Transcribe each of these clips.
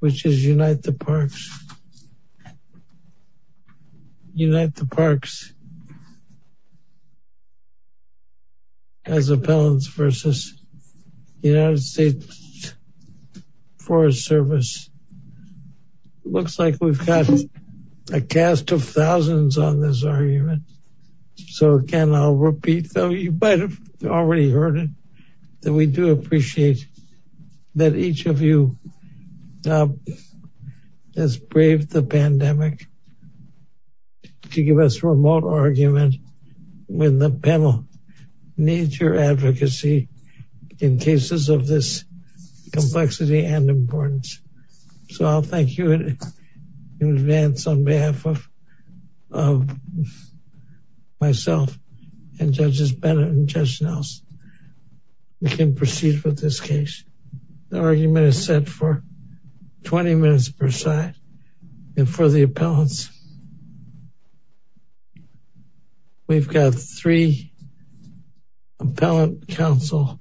which is Unite the Parks as appellants versus United States Forest Service. Looks like we've got a cast of thousands on this argument so again I'll repeat though you might have already heard it that we do appreciate that each of you has braved the pandemic to give us a remote argument when the panel needs your advocacy in cases of this complexity and importance. So I'll thank you in advance on behalf of myself and judges Bennett and Judge Nelson we can proceed with this case. The argument is set for 20 minutes per side and for the appellants we've got three appellant counsel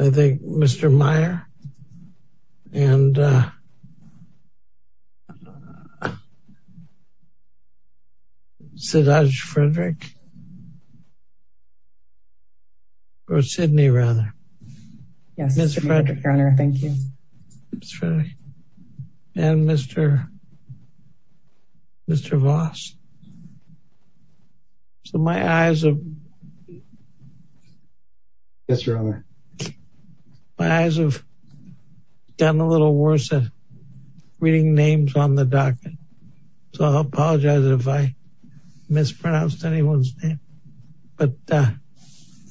I think Mr. Meyer and Sidaj Frederick or Sidney rather yes Mr. Frederick your honor thank you Mr. Frederick and Mr. Mr. Voss so my eyes have yes your honor my eyes have done a little worse at reading names on the docket so I apologize if I mispronounced anyone's name but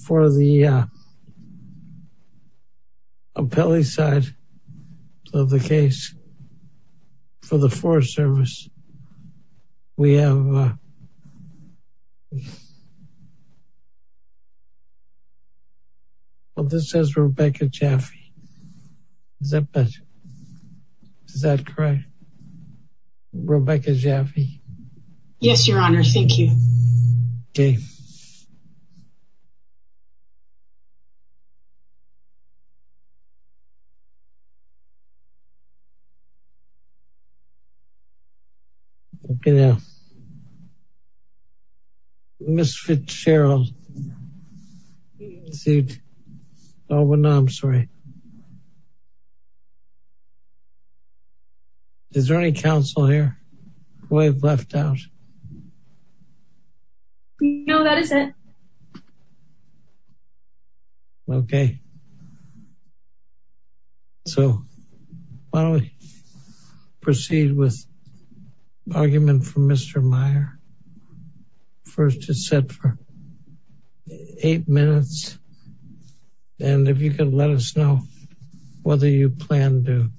for the appellee side of the case for the Forest Service we have well this says Rebecca Jaffe is that better is that correct Rebecca Jaffe yes your honor thank you okay okay now Ms. Fitzgerald oh no I'm sorry is there any counsel here who I've left out no that is it okay so why don't we proceed with argument for Mr. Meyer first it's set for eight minutes and if you can let us know whether you plan to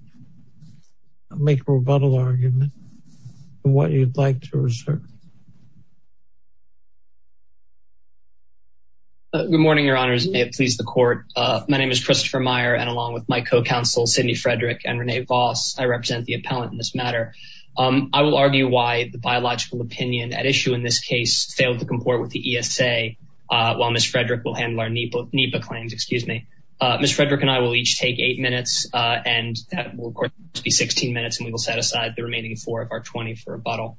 make a rebuttal argument and what you'd like to reserve good morning your honors may it please the court my name is Christopher Meyer and along with my co-counsel Sidney Frederick and Renee Voss I represent the appellant in this matter I will argue why the biological opinion at issue in this case failed to comport with the ESA while Ms. Frederick will handle our NEPA claims excuse me Ms. Frederick and I will each take eight minutes and that will of course be 16 minutes and we will set aside the remaining four of our 24 rebuttal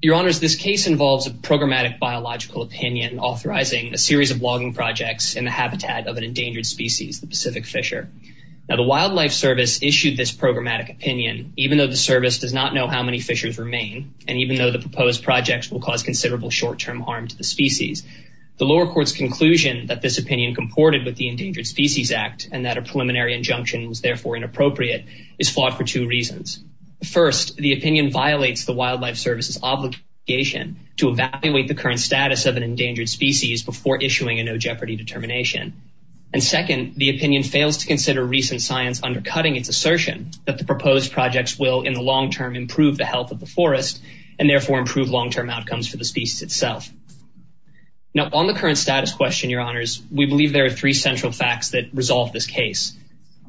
your honors this case involves a programmatic biological opinion authorizing a series of logging projects in the habitat of an endangered species the Pacific Fisher now the Wildlife Service issued this programmatic opinion even though the service does not know how many fishers remain and even though the proposed projects will cause considerable short-term harm to the species the lower court's conclusion that this opinion comported with the Endangered Species Act and that a preliminary injunction was therefore inappropriate is fought for two reasons first the opinion violates the Wildlife Service's obligation to evaluate the current status of an endangered species before issuing a no jeopardy determination and second the opinion fails to consider recent science undercutting its assertion that the proposed projects will in the long term improve the health of the forest and therefore improve long-term outcomes for the species itself now on the current status question your honors we believe there are three central facts that resolve this case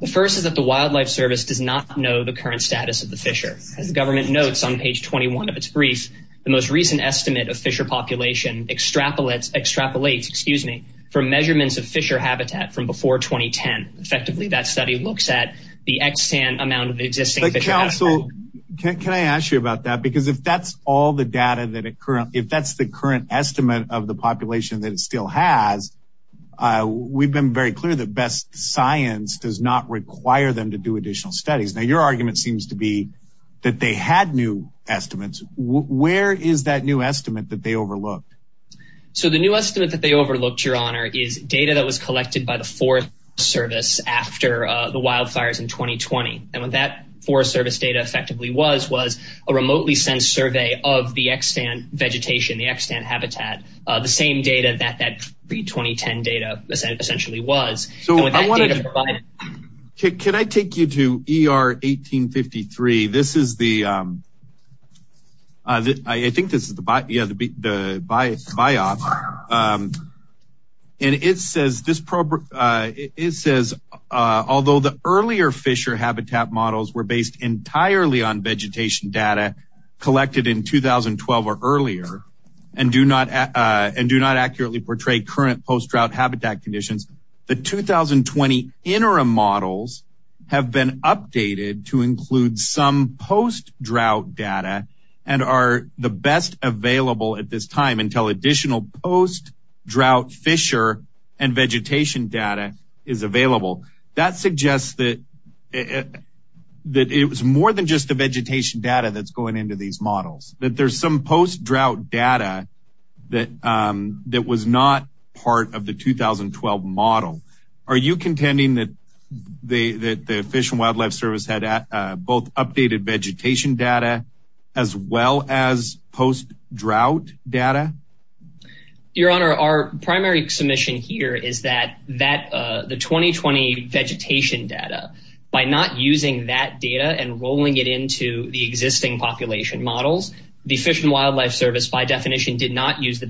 the first is that the Wildlife Service does not know the current status of the fisher as the government notes on page 21 of its brief the most recent estimate of fisher population extrapolates extrapolates excuse me for measurements of fisher habitat from before 2010 effectively that study looks at the extant amount counsel can i ask you about that because if that's all the data that it currently if that's the current estimate of the population that it still has uh we've been very clear that best science does not require them to do additional studies now your argument seems to be that they had new estimates where is that new estimate that they overlooked so the new estimate that they overlooked your honor is data that was collected by the forest service after uh the forest service data effectively was was a remotely sensed survey of the extant vegetation the extant habitat uh the same data that that pre-2010 data essentially was so i wanted to provide can i take you to er 1853 this is the um uh i think this is the yeah the the bias buy-off um and it says this uh it says uh although the earlier fisher habitat models were based entirely on vegetation data collected in 2012 or earlier and do not uh and do not accurately portray current post-drought habitat conditions the 2020 interim models have been updated to include some post data and are the best available at this time until additional post drought fisher and vegetation data is available that suggests that it that it was more than just the vegetation data that's going into these models that there's some post drought data that um that was not part of the 2012 model are you contending that the that the fish and wildlife service had both updated vegetation data as well as post drought data your honor our primary submission here is that that uh the 2020 vegetation data by not using that data and rolling it into the existing population models the fish and wildlife service by definition did not use the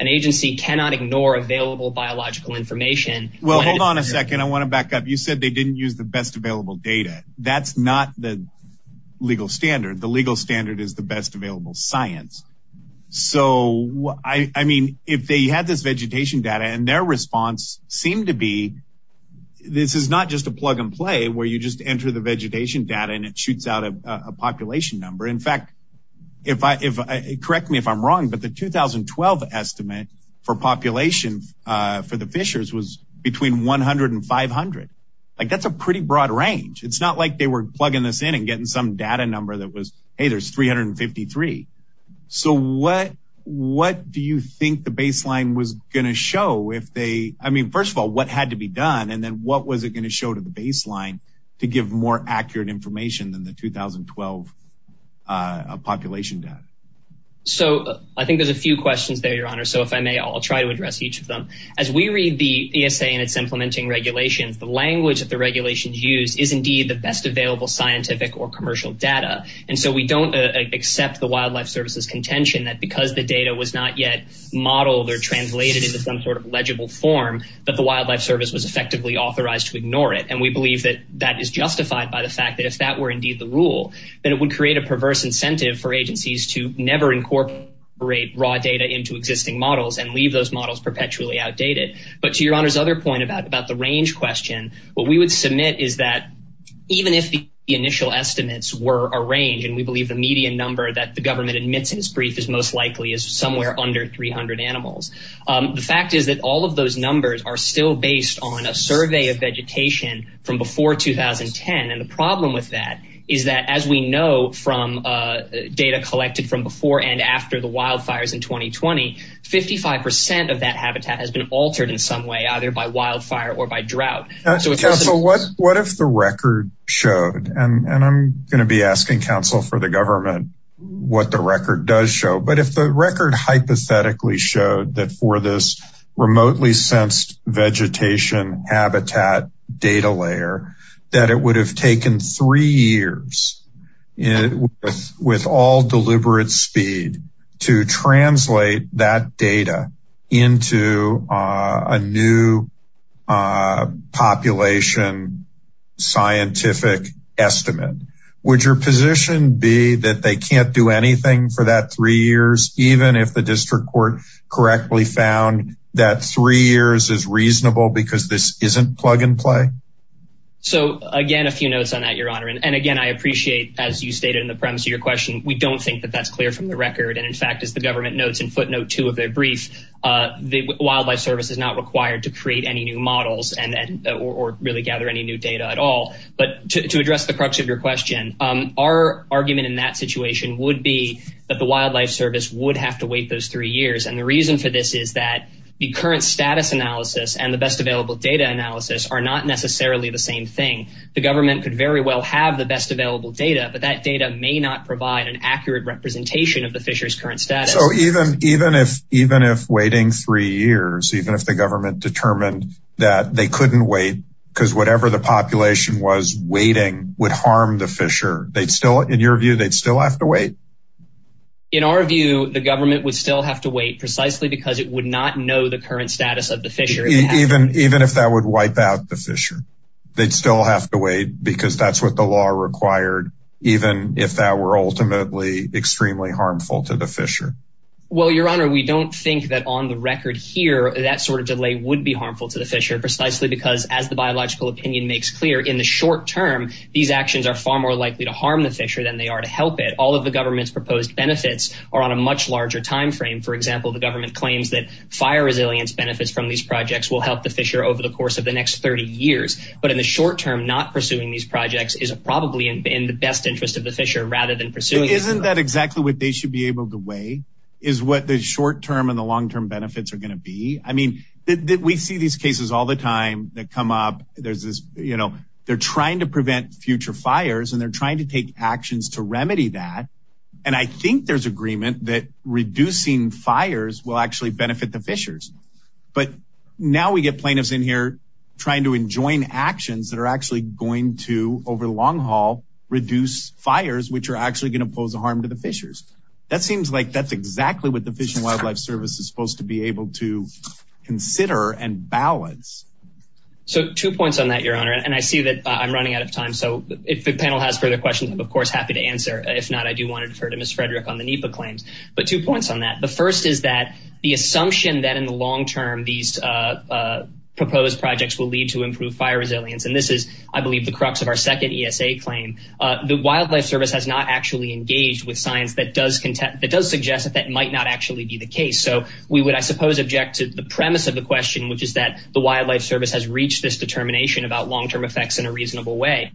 an agency cannot ignore available biological information well hold on a second i want to back up you said they didn't use the best available data that's not the legal standard the legal standard is the best available science so i i mean if they had this vegetation data and their response seemed to be this is not just a plug and play where you just enter the vegetation data and it shoots out a population number in fact if i if i correct me if i'm wrong but the 2012 estimate for population uh for the fishers was between 100 and 500 like that's a pretty broad range it's not like they were plugging this in and getting some data number that was hey there's 353 so what what do you think the baseline was going to show if they i mean first of all what had to be done and then what was it going to show to the baseline to give more accurate information than the 2012 uh population data so i think there's a few questions there your honor so if i may i'll try to address each of them as we read the esa and its implementing regulations the language that the regulations use is indeed the best available scientific or commercial data and so we don't accept the wildlife services contention that because the data was not yet modeled or translated into some sort of legible form that the wildlife service was effectively authorized to ignore it and we believe that that is justified by the fact that if that were indeed the rule then it would create a perverse incentive for agencies to never incorporate raw data into existing models and leave those models perpetually outdated but to your honor's other point about about the range question what we would submit is that even if the initial estimates were a range and we believe the median number that the government admits in its brief is most likely is all of those numbers are still based on a survey of vegetation from before 2010 and the problem with that is that as we know from uh data collected from before and after the wildfires in 2020 55 of that habitat has been altered in some way either by wildfire or by drought so what what if the record showed and and i'm going to be asking council for the government what the record does but if the record hypothetically showed that for this remotely sensed vegetation habitat data layer that it would have taken three years and with with all deliberate speed to translate that data into a new population scientific estimate would your position be that they can't do anything for that three years even if the district court correctly found that three years is reasonable because this isn't plug and play so again a few notes on that your honor and again i appreciate as you stated in the premise of your question we don't think that that's clear from the record and in fact as the government notes in footnote two of their brief uh the wildlife service is not required to create any new models and or really gather any new data at all but to address the crux of your question um our argument in that situation would be that the wildlife service would have to wait those three years and the reason for this is that the current status analysis and the best available data analysis are not necessarily the same thing the government could very well have the best available data but that data may not provide an accurate representation of the fisher's current status so even even if even if waiting three years even if the government determined that they couldn't wait because whatever the population was waiting would harm the fisher they'd still in your view they'd still have to wait in our view the government would still have to wait precisely because it would not know the current status of the fisher even even if that would wipe out the fisher they'd still have to wait because that's what the law required even if that were ultimately extremely harmful to the fisher well your honor we don't think that on the record here that sort of delay would be harmful to the fisher precisely because as the biological opinion makes clear in the short term these actions are far more likely to harm the fisher than they are to help it all of the government's proposed benefits are on a much larger time frame for example the government claims that fire resilience benefits from these projects will help the fisher over the course of the next 30 years but in the short term not pursuing these projects is probably in the best interest of the fisher rather than pursuing isn't that exactly what they should be able to weigh is what the short term and the long-term benefits are going to be i mean that we see these cases all the time that come up there's this you know they're trying to prevent future fires and they're trying to take actions to remedy that and i think there's agreement that reducing fires will actually benefit the fishers but now we get plaintiffs in here trying to enjoin actions that are actually going to over the long haul reduce fires which are actually going to pose a harm to the fishers that seems like that's exactly what the fish and wildlife service is supposed to be able to consider and balance so two points on that your honor and i see that i'm running out of time so if the panel has further questions i'm of course happy to answer if not i do want to defer to miss frederick on the nipa claims but two points on that the first is that the assumption that in the long term these uh proposed projects will lead to improved fire resilience and this is i believe the crux of our second esa claim uh the wildlife service has not actually engaged with science that does content that does suggest that that might not actually be the case so we would i suppose object to the premise of the question which is that the wildlife service has reached this determination about long-term effects in a reasonable way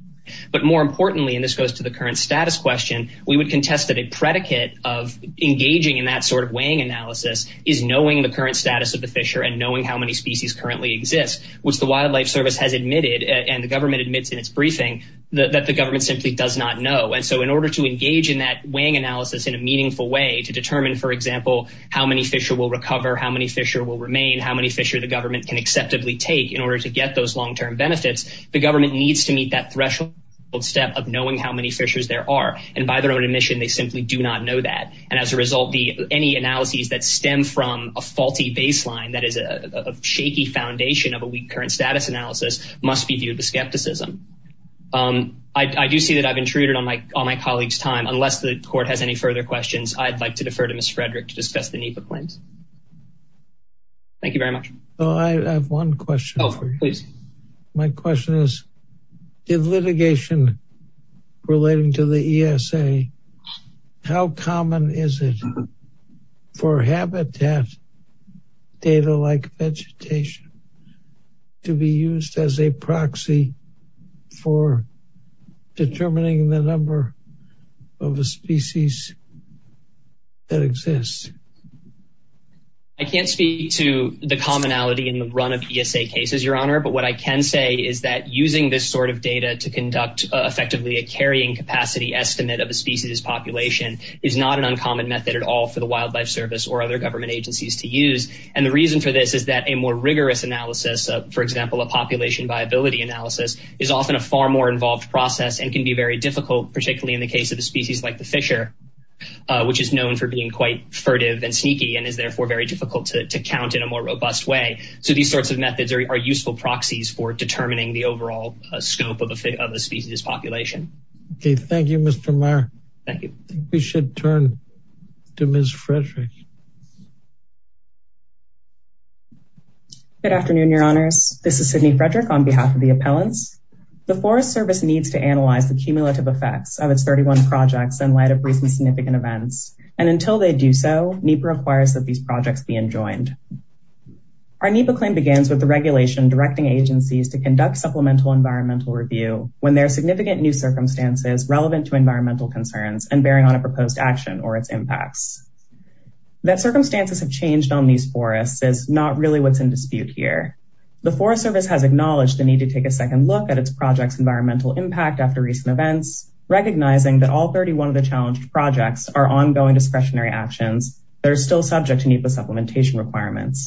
but more importantly and this goes to the current status question we would contest that a predicate of engaging in that sort of weighing analysis is knowing the current status of the fisher and knowing how many species currently exist which the wildlife service has admitted and the government admits in its briefing that the government simply does not know and so in order to engage in that weighing analysis in a meaningful way to determine for example how many fisher will recover how many fisher will remain how many fisher the government can acceptably take in order to get those long-term benefits the government needs to meet that threshold step of knowing how many fishers there are and by their own admission they simply do not know that and as a result the any analyses that stem from a faulty baseline that is a shaky foundation of a weak current status analysis must be viewed with skepticism um i do see that i've intruded on my on my colleague's time unless the court has any further questions i'd like to defer to miss frederick to discuss the nipa claims thank you very much oh i have one question oh please my question is did litigation relating to the esa how common is it for habitat data like vegetation to be used as a proxy for determining the number of a species that exists i can't speak to the commonality in the run of esa cases your honor but what i can say is that using this sort of data to conduct effectively a carrying capacity estimate of a species population is not an uncommon method at all for the wildlife service or other government agencies to use and the reason for this is that a more rigorous analysis for example a population viability analysis is often a far more involved process and can be very difficult particularly in the case of the species like the fisher which is known for being quite furtive and sneaky and is therefore very difficult to count in a more robust way so these sorts of methods are useful proxies for determining the overall scope of the species population okay thank you mr meyer thank you i think we should turn to miss frederick good afternoon your honors this is sydney frederick on behalf of the appellants the forest service needs to analyze the cumulative effects of its 31 projects in light of recent significant events and until they do so nipa requires that these projects be enjoined our nipa claim begins with the regulation directing agencies to conduct supplemental environmental review when there are significant new circumstances relevant to environmental concerns and bearing on a proposed action or its impacts that circumstances have changed on these forests is not really what's in dispute here the forest service has acknowledged the need to take a second look at its projects environmental impact after recent events recognizing that all 31 of the challenged projects are ongoing discretionary actions that are still subject to nipa supplementation requirements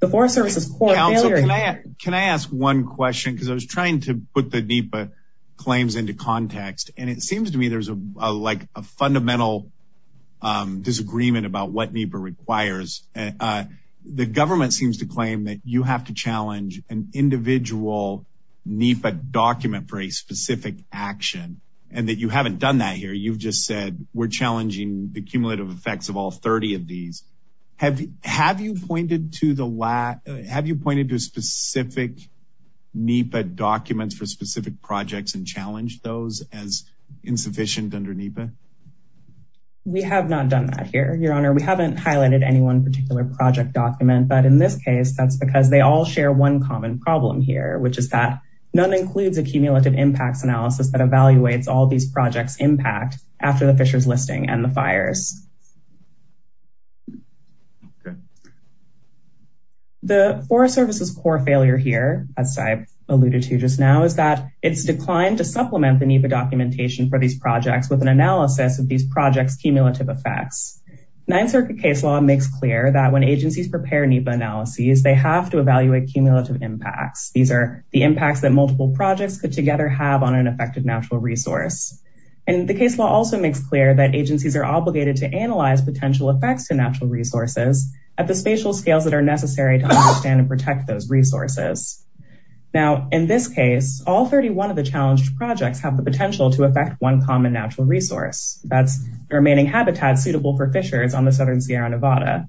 the forest services can i ask one question because i was trying to put the nipa claims into context and it seems to me there's a like a fundamental um disagreement about what nipa requires uh the government seems to claim that you have to challenge an individual nipa document for a specific action and that you haven't done that here you've just said we're have you pointed to the last have you pointed to specific nipa documents for specific projects and challenged those as insufficient under nipa we have not done that here your honor we haven't highlighted any one particular project document but in this case that's because they all share one common problem here which is that none includes accumulative impacts analysis that evaluates all these projects impact after the fisher's listing and the fires okay the forest service's core failure here as i've alluded to just now is that it's declined to supplement the nipa documentation for these projects with an analysis of these projects cumulative effects ninth circuit case law makes clear that when agencies prepare nipa analyses they have to evaluate cumulative impacts these are the impacts that multiple projects could together have on an effective natural resource and the case law also makes clear that agencies are obligated to analyze potential effects to natural resources at the spatial scales that are necessary to understand and protect those resources now in this case all 31 of the challenged projects have the potential to affect one common natural resource that's remaining habitat suitable for fishers on the southern sierra nevada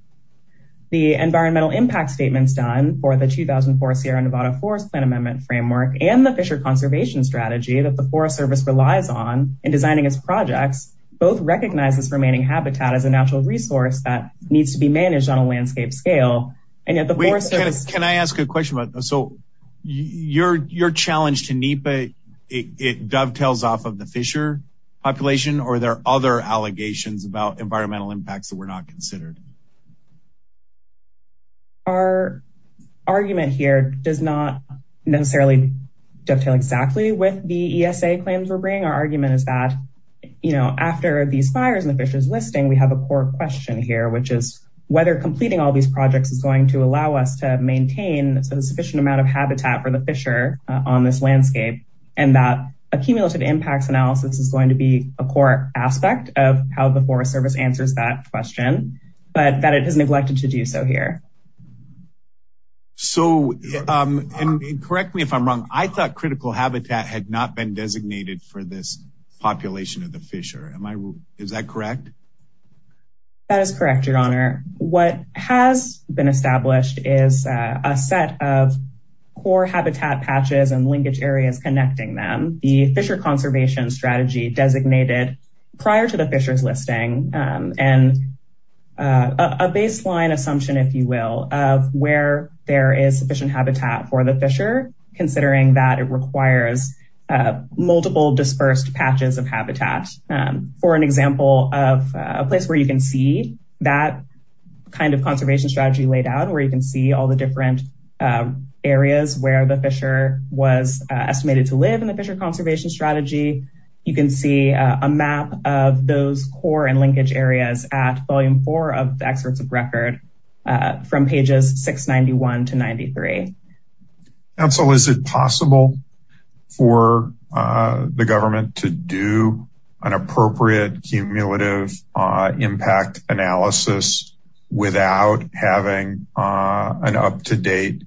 the environmental impact statements done for the 2004 sierra nevada forest plan amendment framework and the fisher conservation strategy that the forest service relies on in designing its projects both recognize this remaining habitat as a natural resource that needs to be managed on a landscape scale and yet the forest service can i ask a question about so your your challenge to nipa it dovetails off of the fisher population or there are other allegations about environmental impacts that were not considered our argument here does not necessarily dovetail exactly with the esa claims we're bringing our argument is that you know after these fires and the fishers listing we have a core question here which is whether completing all these projects is going to allow us to maintain a sufficient amount of habitat for the fisher on this landscape and that accumulative impacts analysis is going to be a core aspect of how the forest service answers that question but that it has neglected to do so here so um and correct me if i'm wrong i thought critical habitat had not been designated for this population of the fisher am i wrong is that correct that is correct your honor what has been established is a set of core habitat patches and linkage areas connecting them the fisher conservation strategy designated prior to the fisher's listing and a baseline assumption if you will of where there is sufficient habitat for the fisher considering that it requires multiple dispersed patches of habitat for an example of a place where you can see that kind of conservation strategy laid out where you can see all the different areas where the fisher was estimated to live in the fisher conservation strategy you can see a map of those core and linkage areas at volume four of the experts of record from pages 691 to 93 and so is it possible for the government to do an appropriate cumulative impact analysis without having an up-to-date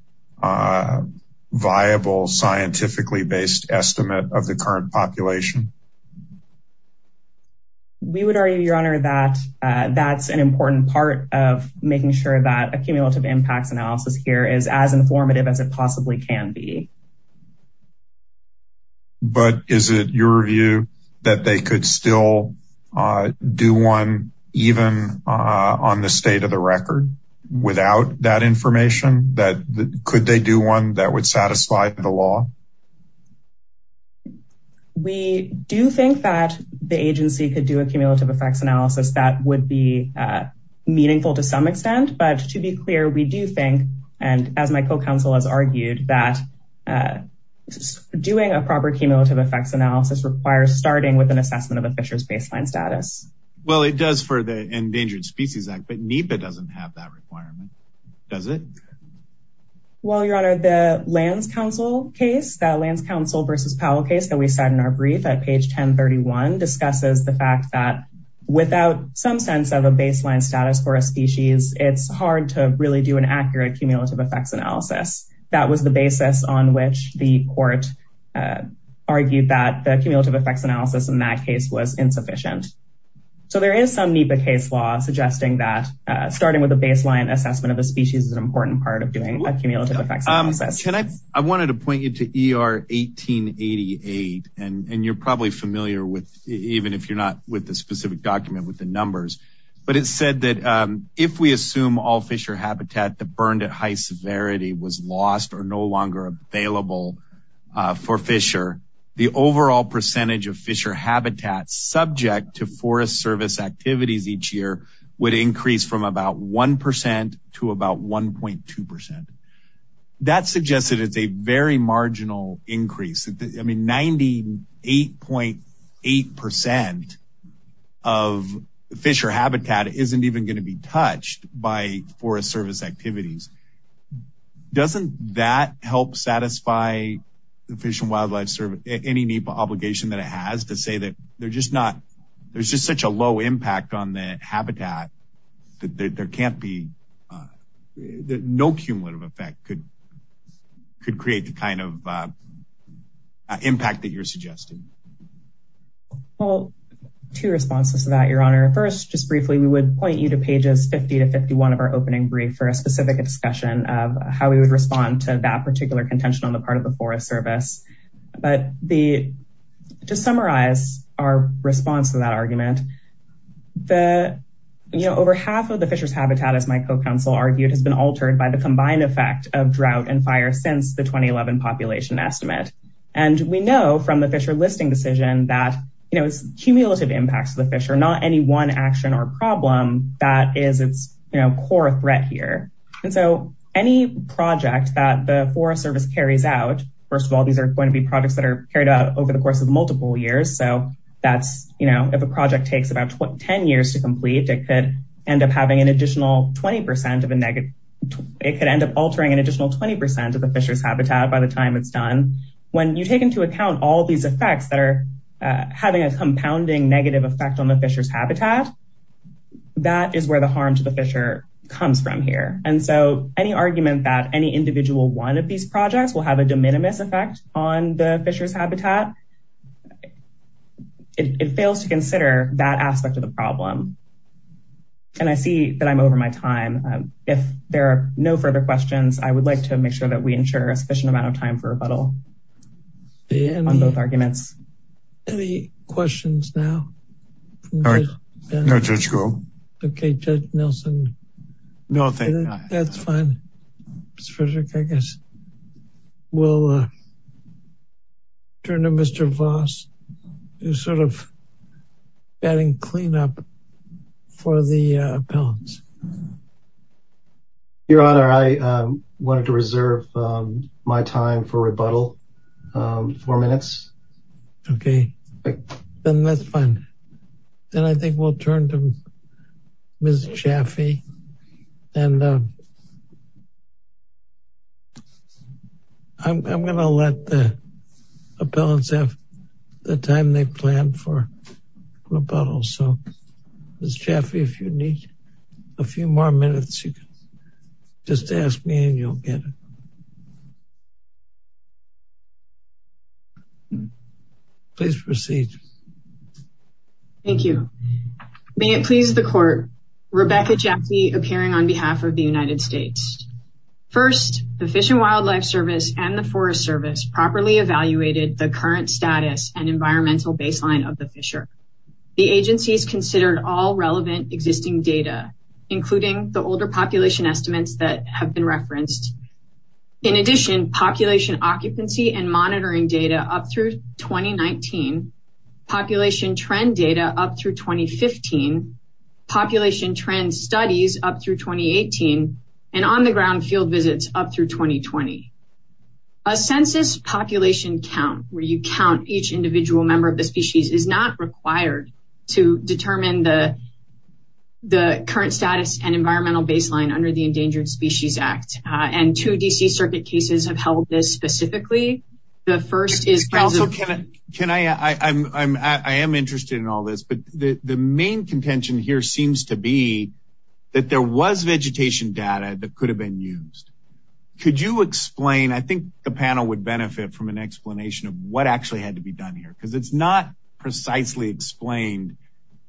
viable scientifically based estimate of the current population we would argue your honor that that's an important part of making sure that accumulative impacts analysis here is as informative as it possibly can be but is it your view that they could still do one even on the state of the record without that information that could they do one that would satisfy the law we do think that the agency could do a cumulative effects analysis that would be meaningful to some extent but to be clear we do think and as my co-counsel has argued that just doing a proper cumulative effects analysis requires starting with an assessment of a fisher's baseline status well it does for the endangered species act but NEPA doesn't have that requirement does it well your honor the lands council case that lands council versus powell case that we said in our brief at page 1031 discusses the fact that without some sense of a baseline status for a that was the basis on which the court argued that the cumulative effects analysis in that case was insufficient so there is some NEPA case law suggesting that starting with a baseline assessment of the species is an important part of doing a cumulative effects analysis can i i wanted to point you to er 1888 and and you're probably familiar with even if you're not with the specific document with the numbers but it said that um if we assume all fisher habitat that was lost or no longer available for fisher the overall percentage of fisher habitat subject to forest service activities each year would increase from about one percent to about 1.2 percent that suggests that it's a very marginal increase i mean 98.8 percent of fisher habitat isn't even going to be touched by forest service activities doesn't that help satisfy the fish and wildlife service any NEPA obligation that it has to say that they're just not there's just such a low impact on the habitat that there can't be no cumulative effect could could create the kind of impact that you're suggesting well two responses to that your honor first just briefly we would point you to pages 50 to 51 of our opening brief for a specific discussion of how we would respond to that particular contention on the part of the forest service but the to summarize our response to that argument the you know over half of the fisher's habitat as my co-counsel argued has been altered by the combined effect of drought and fire since the 2011 population estimate and we know from the fisher listing decision that you know it's cumulative impacts of the fish are not any one action or problem that is its you know core threat here and so any project that the forest service carries out first of all these are going to be projects that are carried out over the course of multiple years so that's you know if a project takes about 10 years to complete it could end up having an additional 20 of a negative it could end up altering an additional 20 of the fisher's habitat by the time it's done when you take into account all these effects that are having a that is where the harm to the fisher comes from here and so any argument that any individual one of these projects will have a de minimis effect on the fisher's habitat it fails to consider that aspect of the problem and i see that i'm over my time if there are no further questions i would like to make sure that we ensure a sufficient amount of time for rebuttal on both arguments any questions now all right no judge go okay judge nelson no thank you that's fine mr frederick i guess we'll uh turn to mr voss who's sort of adding cleanup for the appellants um your honor i um wanted to reserve um my time for rebuttal um four minutes okay then that's fine then i think we'll turn to miss chaffey and uh i'm gonna let the appellants have the time they plan for rebuttal so miss chaffey if you need a few more minutes you can just ask me and you'll get it please proceed thank you may it please the court rebecca jesse appearing on behalf of the united states first the fish and wildlife service and the forest service properly evaluated the current status and environmental baseline of the fisher the agency's considered all relevant existing data including the older population estimates that have been referenced in addition population occupancy and monitoring data up through 2019 population trend data up through 2015 population trend studies up through 2018 and on the ground field visits up through 2020 a census population count where you count each individual member of the species is not required to determine the the current status and environmental baseline under the endangered species act and two dc circuit cases have held this specifically the first is can i can i i i'm i'm i am interested in all this but the the main contention here seems to be that there was vegetation data that could have been used could you explain i think the panel would benefit from an explanation of what actually had to be done here because it's not precisely explained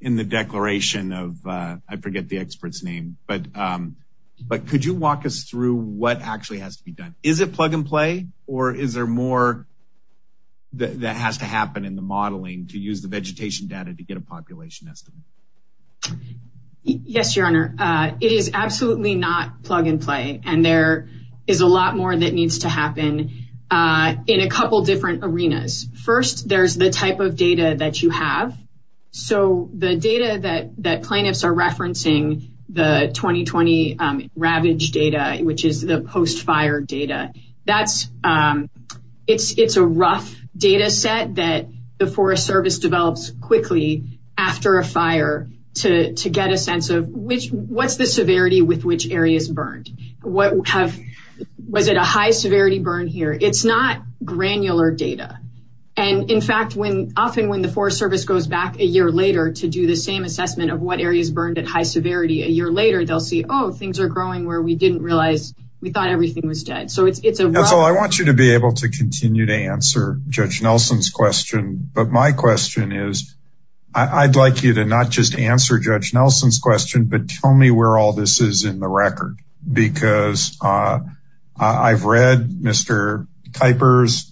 in the declaration of uh i forget the expert's name but um but could you walk us through what actually has to be done is it plug and play or is there more that has to happen in the modeling to use vegetation data to get a population estimate yes your honor uh it is absolutely not plug and play and there is a lot more that needs to happen uh in a couple different arenas first there's the type of data that you have so the data that that plaintiffs are referencing the 2020 ravage data which is the post-fire data that's um it's it's a rough data set that the forest service develops quickly after a fire to to get a sense of which what's the severity with which areas burned what have was it a high severity burn here it's not granular data and in fact when often when the forest service goes back a year later to do the same assessment of what areas burned at high we thought everything was dead so it's it's a that's all i want you to be able to continue to answer judge nelson's question but my question is i'd like you to not just answer judge nelson's question but tell me where all this is in the record because uh i've read mr kipers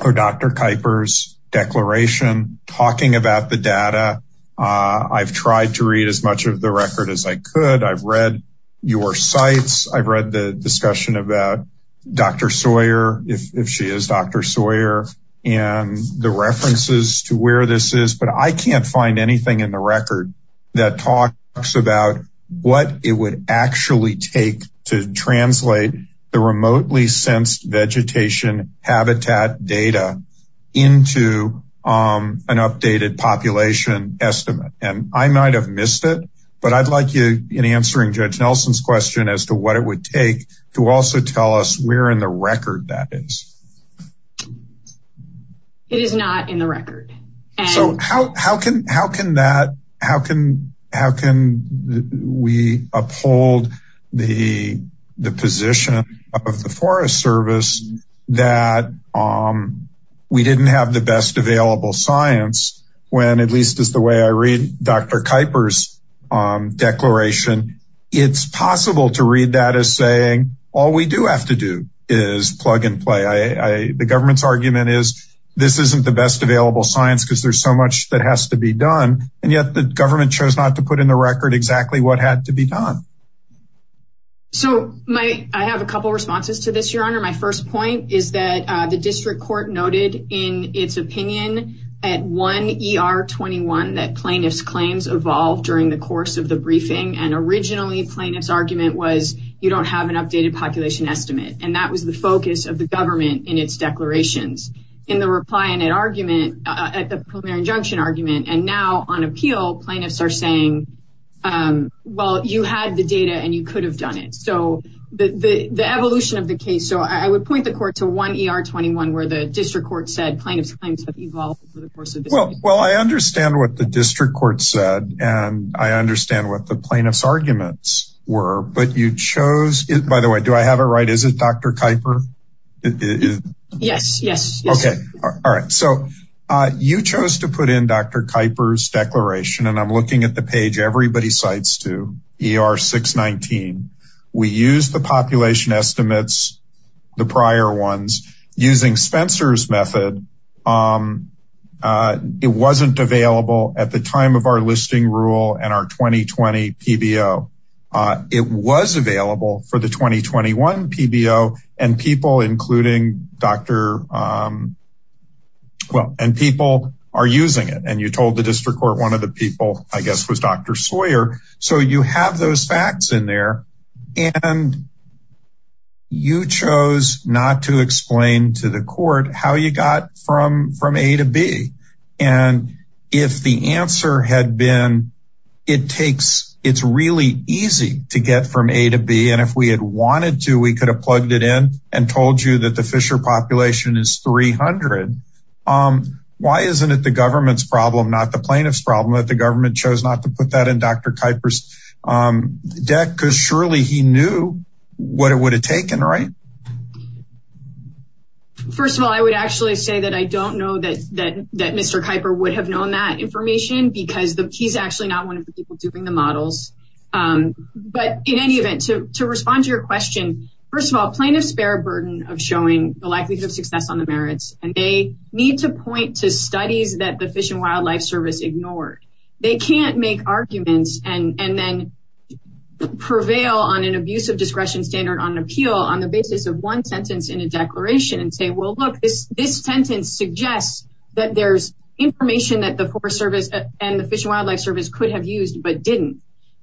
or dr kipers declaration talking about the data uh i've tried to read as much of the record as i could i've read your sites i've read the discussion about dr sawyer if she is dr sawyer and the references to where this is but i can't find anything in the record that talks about what it would actually take to translate the remotely sensed vegetation habitat data into um an updated population estimate and i might have missed it but i'd like you in answering judge nelson's question as to what it would take to also tell us we're in the record that is it is not in the record so how how can how can that how can how can we uphold the the position of the forest service that um we didn't have the best available science when at least as the way i read dr kipers um declaration it's possible to read that as saying all we do have to do is plug and play i i the government's argument is this isn't the best available science because there's so much that has to be done and yet the government chose not to put in the record exactly what had to be done so my i have a couple responses to this your honor my first point is that uh the district court noted in its opinion at 1 er 21 that plaintiffs claims evolved during the course of the briefing and originally plaintiff's argument was you don't have an updated population estimate and that was the focus of the government in its declarations in the reply and an argument at the primary injunction argument and now on appeal plaintiffs are saying um well you had the data and you could have done it so the the the evolution of the case so i would point the court to 1 er 21 where the district court said plaintiffs claims have evolved over the course of this well well i understand what the district court said and i understand what the plaintiffs arguments were but you chose it by the way do i have it right is it dr kiper yes yes okay all right so uh you chose to put in dr kiper's declaration and i'm looking at the page everybody cites to er 619 we use the population estimates the prior ones using spencer's method um uh it wasn't available at the time of our listing rule and our 2020 pbo uh it was available for the 2021 pbo and people including dr um well and people are using it and you told the district court one of people i guess was dr sawyer so you have those facts in there and you chose not to explain to the court how you got from from a to b and if the answer had been it takes it's really easy to get from a to b and if we had wanted to we could have plugged it in and told you that the fisher population is 300 um why isn't it the government's problem not the plaintiff's problem that the government chose not to put that in dr kiper's um deck because surely he knew what it would have taken right first of all i would actually say that i don't know that that that mr kiper would have known that information because the he's actually not one of the people doing the models um but in of showing the likelihood of success on the merits and they need to point to studies that the fish and wildlife service ignored they can't make arguments and and then prevail on an abuse of discretion standard on appeal on the basis of one sentence in a declaration and say well look this this sentence suggests that there's information that the forest service and the fish and wildlife service could have used but didn't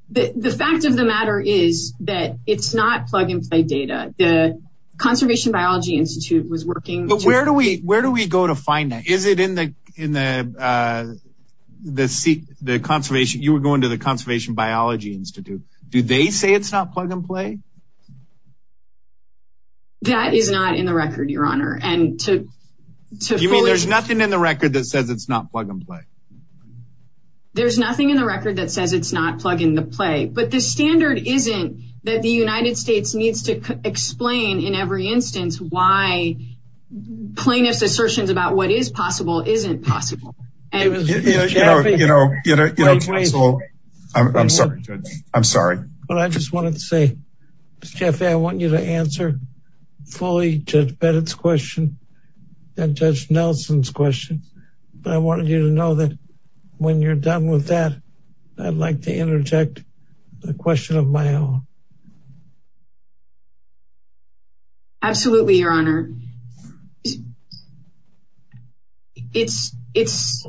the the fact of the matter is that it's plug and play data the conservation biology institute was working but where do we where do we go to find that is it in the in the uh the seat the conservation you were going to the conservation biology institute do they say it's not plug and play that is not in the record your honor and to you mean there's nothing in the record that says it's not plug and play there's nothing in the record that says it's not plug in the play but the standard isn't that the united states needs to explain in every instance why plaintiff's assertions about what is possible isn't possible and you know you know you know i'm sorry i'm sorry but i just wanted to say miss jeff i want you to answer fully judge beddard's question and judge nelson's question but i wanted you to know that when you're done with that i'd like to interject a question of my own absolutely your honor it's it's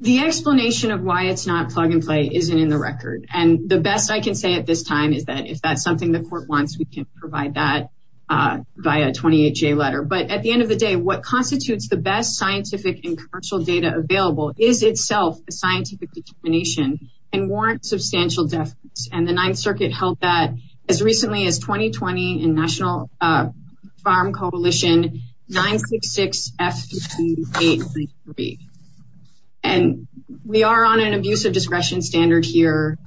the explanation of why it's not plug and play isn't in the record and the best i can say at this time is that if that's something the court wants we can provide that uh by a 28 j letter but at the end of the day what constitutes the best scientific and commercial data available is itself a scientific determination and warrants substantial deficits and the ninth circuit held that as recently as 2020 in national uh farm coalition 966 f 583 and we are on an abusive discretion standard here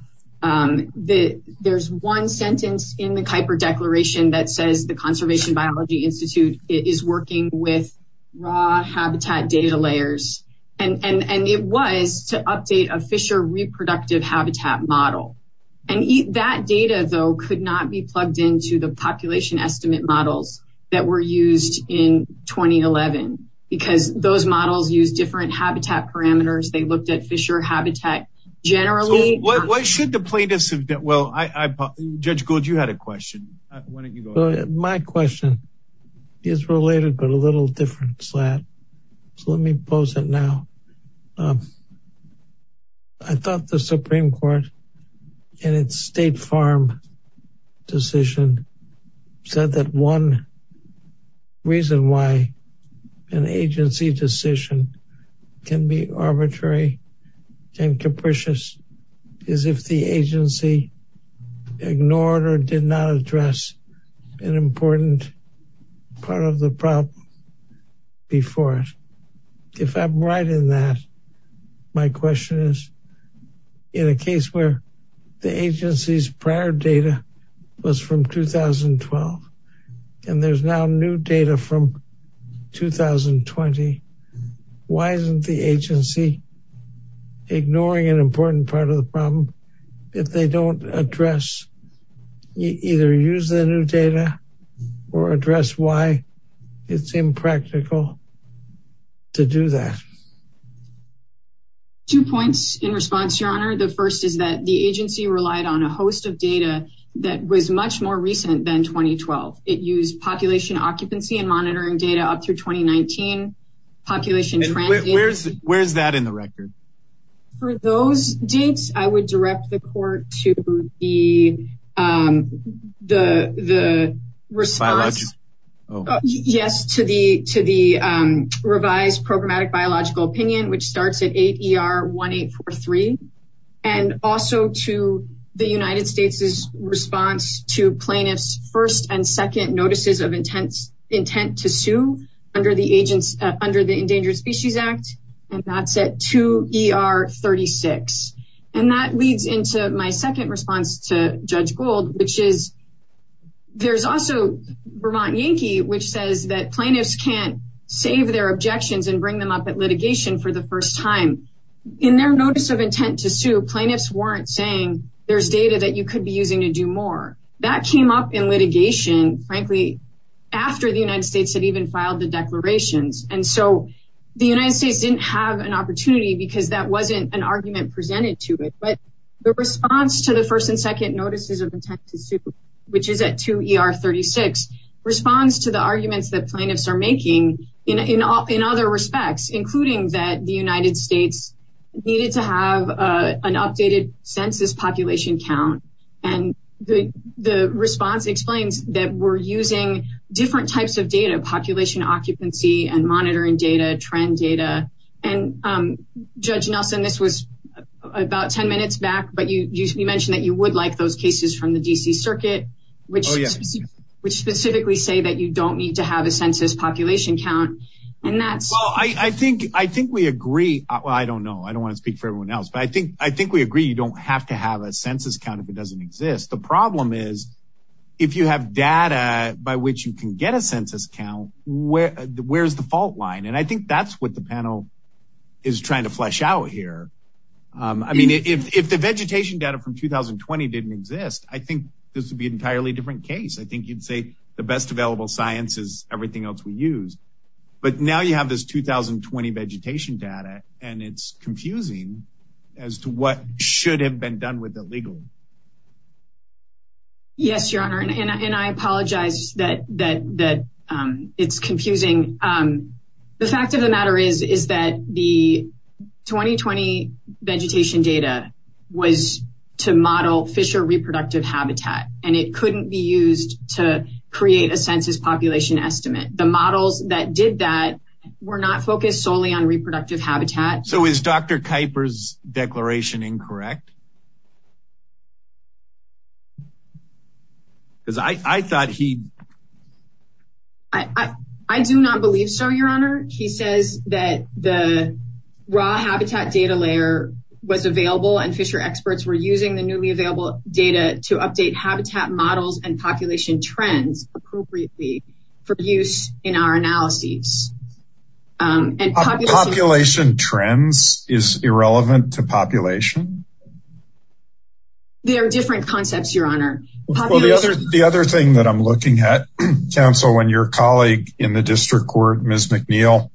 um the there's one sentence in the kuiper declaration that says the conservation biology institute is working with raw habitat data layers and and and it was to update a fisher reproductive habitat model and that data though could not be plugged into the population estimate models that were used in 2011 because those models use different habitat parameters they looked at fisher habitat generally what should the plaintiffs have done well i i judge gold you had a question why don't you go my question is related but a little different so let me pose it now um i thought the supreme court in its state farm decision said that one reason why an agency decision can be arbitrary and capricious is if the agency ignored or did not address an important part of the problem before it if i'm right in that my question is in a case where the agency's prior data was from 2012 and there's now new data from 2020 why isn't the agency ignoring an important part of the problem if they don't address either use the new data or address why it's impractical to do that two points in response your honor the first is that the agency relied on a host of data that was much more recent than 2012 it used population occupancy and monitoring data up through 2019 population where's where's that in the record for those dates i would direct the court to the um the the response oh yes to the to the um revised programmatic biological opinion which starts at 8 er 1843 and also to the united states' response to plaintiffs first and second notices of intense intent to sue under the agents under the endangered species act and that's at 2 er 36 and that leads into my second response to judge gold which is there's also vermont yankee which says that plaintiffs can't save their objections and bring them up at litigation for the first time in their notice of intent to sue plaintiffs weren't saying there's data that you could be using to do more that came up in litigation frankly after the united states had even filed the declarations and so the united states didn't have an opportunity because that wasn't an argument presented to it but the response to the first and second notices of intent to sue which is at 2 er 36 responds to the arguments that plaintiffs are making in in all in other respects including that the united states needed to have a an updated census population count and the the response explains that we're using different types of data population occupancy and monitoring data trend data and um judge nelson this was about 10 minutes back but you you mentioned that you would like those cases from the dc circuit which which specifically say that you don't need to have a census population count and that's well i i think i think we agree i don't know i don't want to speak for everyone else but i think i think we agree you don't have to have a census count if it doesn't exist the problem is if you have data by which you can get a census count where where's the fault line and i think that's what the panel is trying to flesh out here um i mean if if the vegetation data from 2020 didn't exist i think this would be an entirely different case i think you'd say the best available science is everything else we use but now you have this 2020 vegetation data and it's confusing as to what should have been done with it legally yes your honor and i apologize that that that um it's confusing um the fact of the matter is is that the 2020 vegetation data was to model fisher reproductive habitat and it couldn't be used to create a census population estimate the models that did that were not focused solely on reproductive habitat so is dr kuiper's declaration incorrect because i i thought he i i i do not believe so your honor he says that the raw habitat data layer was available and fisher experts were using the newly available data to update habitat models and population trends appropriately for use in our analyses um and population trends is irrelevant to population there are different concepts your honor well the other the other thing that i'm looking at counsel when your colleague in the district court ms mcneil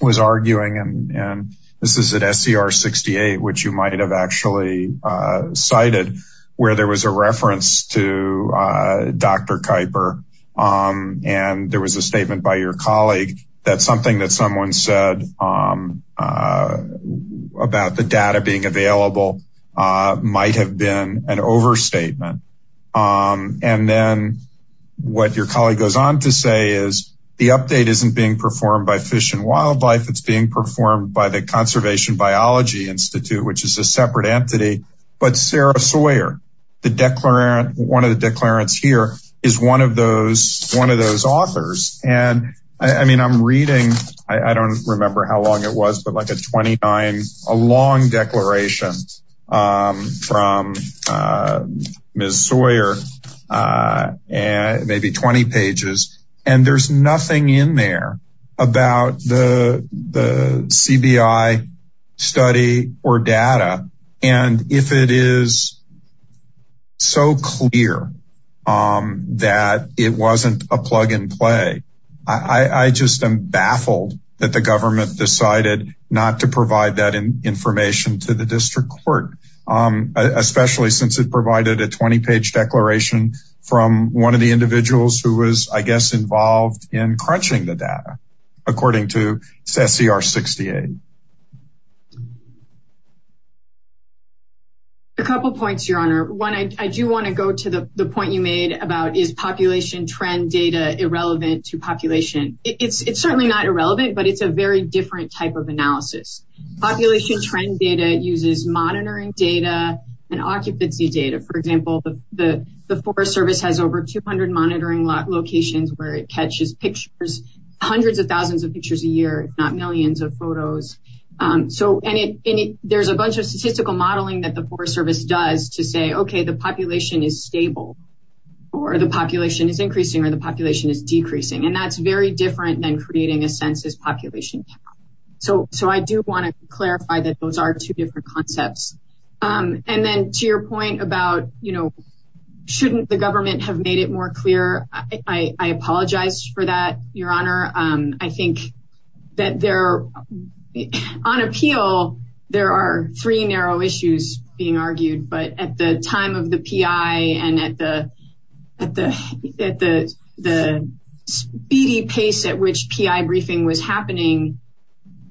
was arguing and and at scr68 which you might have actually uh cited where there was a reference to dr kuiper um and there was a statement by your colleague that something that someone said um about the data being available uh might have been an overstatement um and then what your colleague goes on to say is the update isn't being performed by fish and wildlife it's being performed by the conservation biology institute which is a separate entity but sarah sawyer the declarant one of the declarants here is one of those one of those authors and i mean i'm reading i don't remember how long it was but like a 29 a long declaration um from uh cbi study or data and if it is so clear um that it wasn't a plug and play i i just am baffled that the government decided not to provide that information to the district court um especially since it provided a 20 page declaration from one of the individuals who was i guess involved in sc68 a couple points your honor one i do want to go to the the point you made about is population trend data irrelevant to population it's it's certainly not irrelevant but it's a very different type of analysis population trend data uses monitoring data and occupancy data for example the the forest service has over 200 monitoring locations where it catches pictures hundreds of photos um so and it there's a bunch of statistical modeling that the forest service does to say okay the population is stable or the population is increasing or the population is decreasing and that's very different than creating a census population so so i do want to clarify that those are two different concepts um and then to your point about you know shouldn't the government have made it more clear i i apologize for that your honor um i think that there on appeal there are three narrow issues being argued but at the time of the pi and at the at the at the the speedy pace at which pi briefing was happening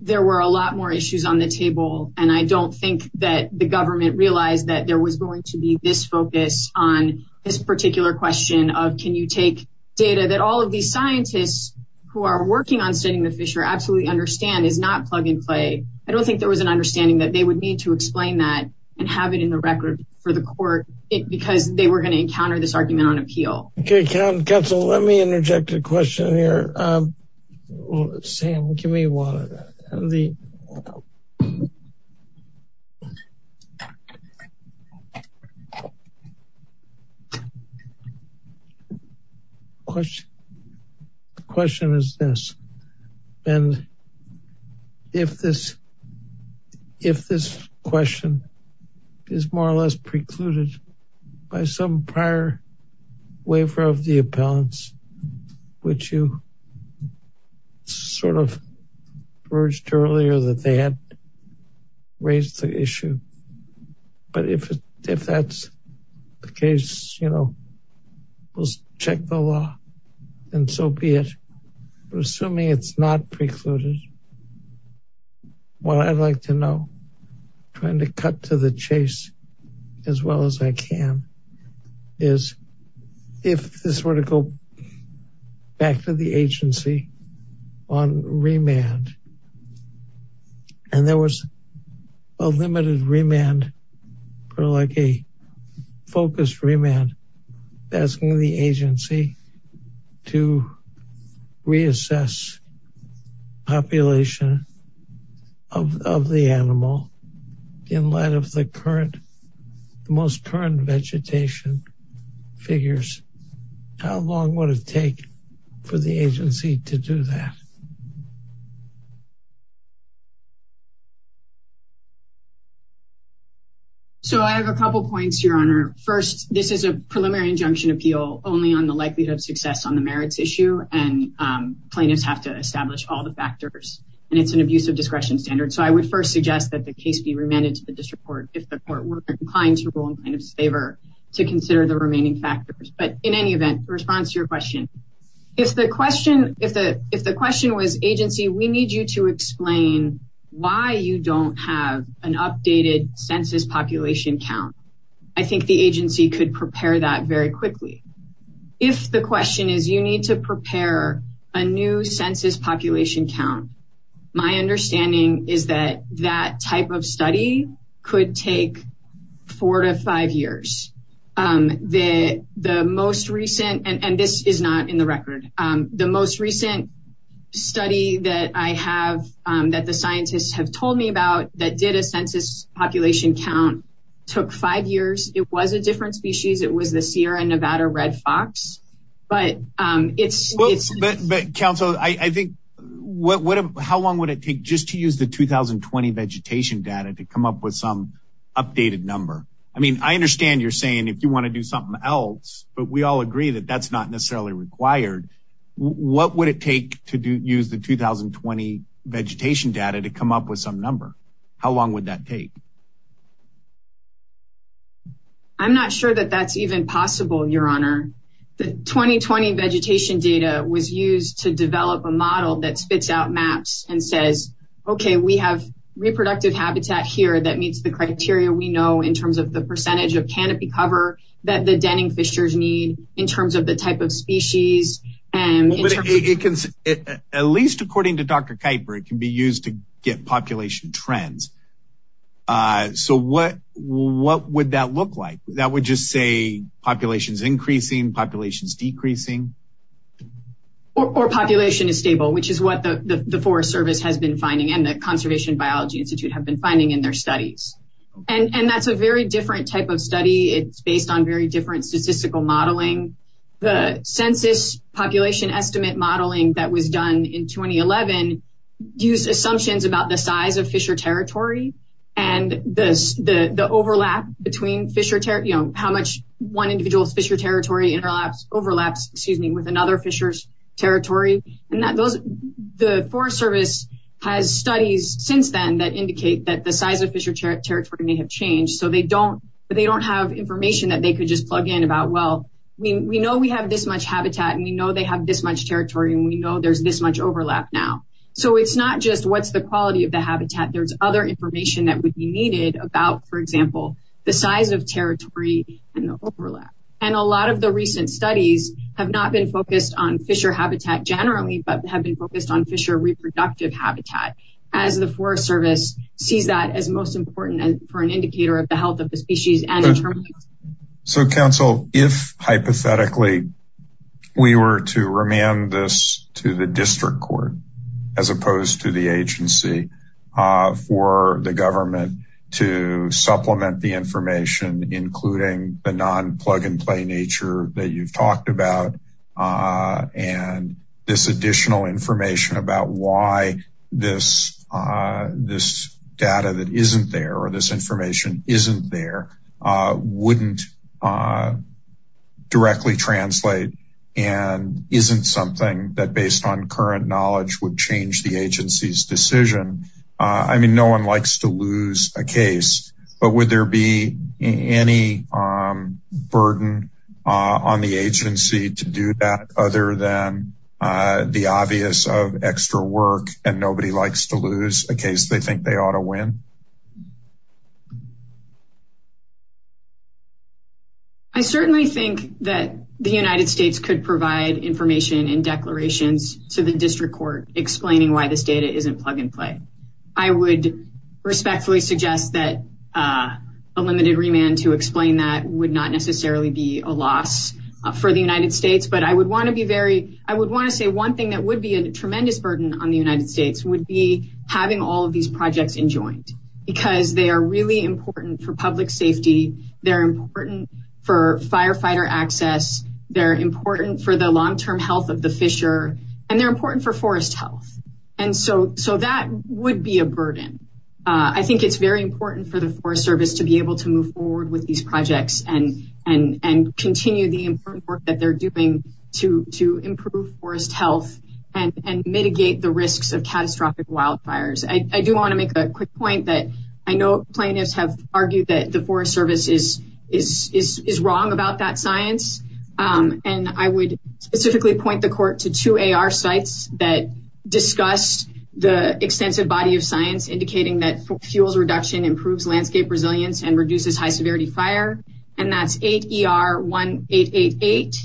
there were a lot more issues on the table and i don't think that the government realized that there was going to be this focus on this particular question of can you take data that all of these scientists who are working on studying the fisher absolutely understand is not plug and play i don't think there was an understanding that they would need to explain that and have it in the record for the court because they were going to encounter this argument on appeal okay council let me interject a question here um sam give me one of the questions question the question is this and if this if this question is more or less precluded by some prior waiver of the appellants which you sort of urged earlier that they had raised the issue but if if that's the case you know we'll check the law and so be it assuming it's not precluded what i'd like to know trying to cut to the chase as well as i can is if this were to go back to the agency on remand and there was a limited remand for like a focused remand asking the agency to reassess population of of the animal in light of the current the most current vegetation figures how long would it take for the agency to do that so i have a couple points your honor first this is a preliminary injunction appeal only on the likelihood of success on the merits issue and plaintiffs have to establish all the factors and it's an abuse of discretion standard so i would first suggest that the case be remanded to the district court if the court were inclined to rule in kind of favor to consider the remaining factors but in any event response to your question if the question if the if the question was agency we need you to explain why you don't have an updated census population count i think the agency could prepare that very quickly if the question is you need to prepare a new census population count my understanding is that that type of study could take four to five years um the the most recent and and this is not in the record um the most recent study that i have um that the scientists have told me about that did a census population count took five years it was a what what how long would it take just to use the 2020 vegetation data to come up with some updated number i mean i understand you're saying if you want to do something else but we all agree that that's not necessarily required what would it take to use the 2020 vegetation data to come up with some number how long would that take i'm not sure that that's even possible your honor the 2020 vegetation data was used to develop a model that spits out maps and says okay we have reproductive habitat here that meets the criteria we know in terms of the percentage of canopy cover that the denning fishers need in terms of the type of species and it can at least according to dr kuiper it can be used to get population trends uh so what what would that look like that would just say populations increasing populations decreasing or population is stable which is what the the forest service has been finding and the conservation biology institute have been finding in their studies and and that's a very different type of study it's based on very different statistical modeling the census population estimate modeling that was done in 2011 use assumptions about the size of fisher territory and this the the overlap between fisher you know how much one individual's fisher territory interlaps overlaps excuse me with another fisher's territory and that those the forest service has studies since then that indicate that the size of fisher territory may have changed so they don't but they don't have information that they could just plug in about well we we know we have this much habitat and know they have this much territory and we know there's this much overlap now so it's not just what's the quality of the habitat there's other information that would be needed about for example the size of territory and the overlap and a lot of the recent studies have not been focused on fisher habitat generally but have been focused on fisher reproductive habitat as the forest service sees that as most important for an indicator of the health of the species and so council if hypothetically we were to remand this to the district court as opposed to the agency uh for the government to supplement the information including the non-plug-and-play nature that you've talked about uh and this additional information about why this uh this data that directly translate and isn't something that based on current knowledge would change the agency's decision uh i mean no one likes to lose a case but would there be any um burden uh on the agency to do that other than uh the obvious of extra work and nobody likes to lose a case they think ought to win i certainly think that the united states could provide information and declarations to the district court explaining why this data isn't plug and play i would respectfully suggest that uh a limited remand to explain that would not necessarily be a loss for the united states but i would want to be very i would want to say one thing that would be a tremendous burden on having all of these projects enjoined because they are really important for public safety they're important for firefighter access they're important for the long-term health of the fisher and they're important for forest health and so so that would be a burden uh i think it's very important for the forest service to be able to move forward with these projects and and and continue the important work that they're doing to to improve forest health and and mitigate the wildfires i do want to make a quick point that i know plaintiffs have argued that the forest service is is is wrong about that science um and i would specifically point the court to two ar sites that discussed the extensive body of science indicating that fuels reduction improves landscape resilience and reduces high severity fire and that's eight er one eight eight eight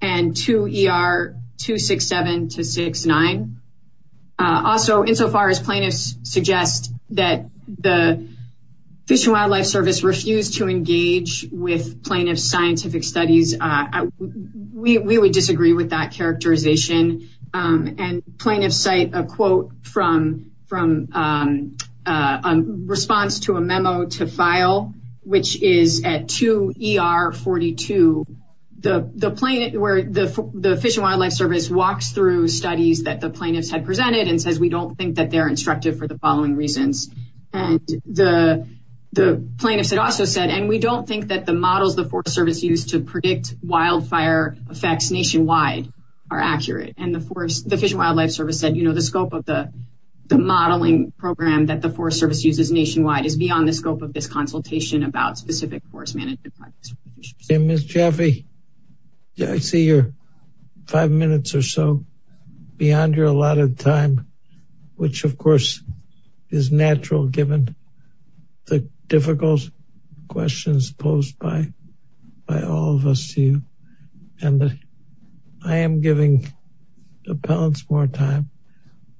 and two er two six seven to six nine uh also insofar as plaintiffs suggest that the fish and wildlife service refused to engage with plaintiff scientific studies uh we we would disagree with that characterization um and plaintiffs cite a quote from from um uh response to a memo to file which is at two er 42 the the plaintiff where the the fish and wildlife service walks through studies that the plaintiffs had presented and says we don't think that they're instructive for the following reasons and the the plaintiffs had also said and we don't think that the models the forest service used to predict wildfire effects nationwide are accurate and the forest the fish and wildlife service said you know the scope of the the modeling program that the service uses nationwide is beyond the scope of this consultation about specific course management hey miss jaffe yeah i see you're five minutes or so beyond your allotted time which of course is natural given the difficult questions posed by by all of us to you and i am giving appellants more time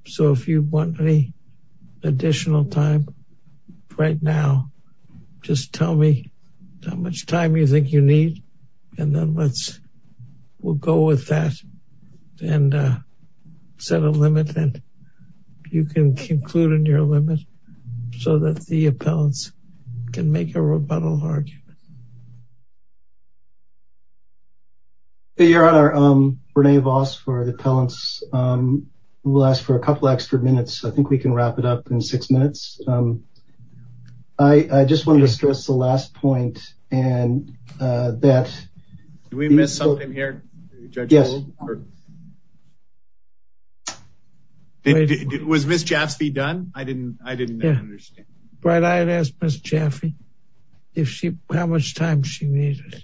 so if you want any additional time right now just tell me how much time you think you need and then let's we'll go with that and uh set a limit and you can conclude in your limit so that the appellants can make a rebuttal argument um hey your honor um renee vos for the talents um we'll ask for a couple extra minutes i think we can wrap it up in six minutes um i i just wanted to stress the last point and uh that did we miss something here judge yes was miss jaffe done i didn't i didn't understand right i had asked miss jaffe if she how much time she needed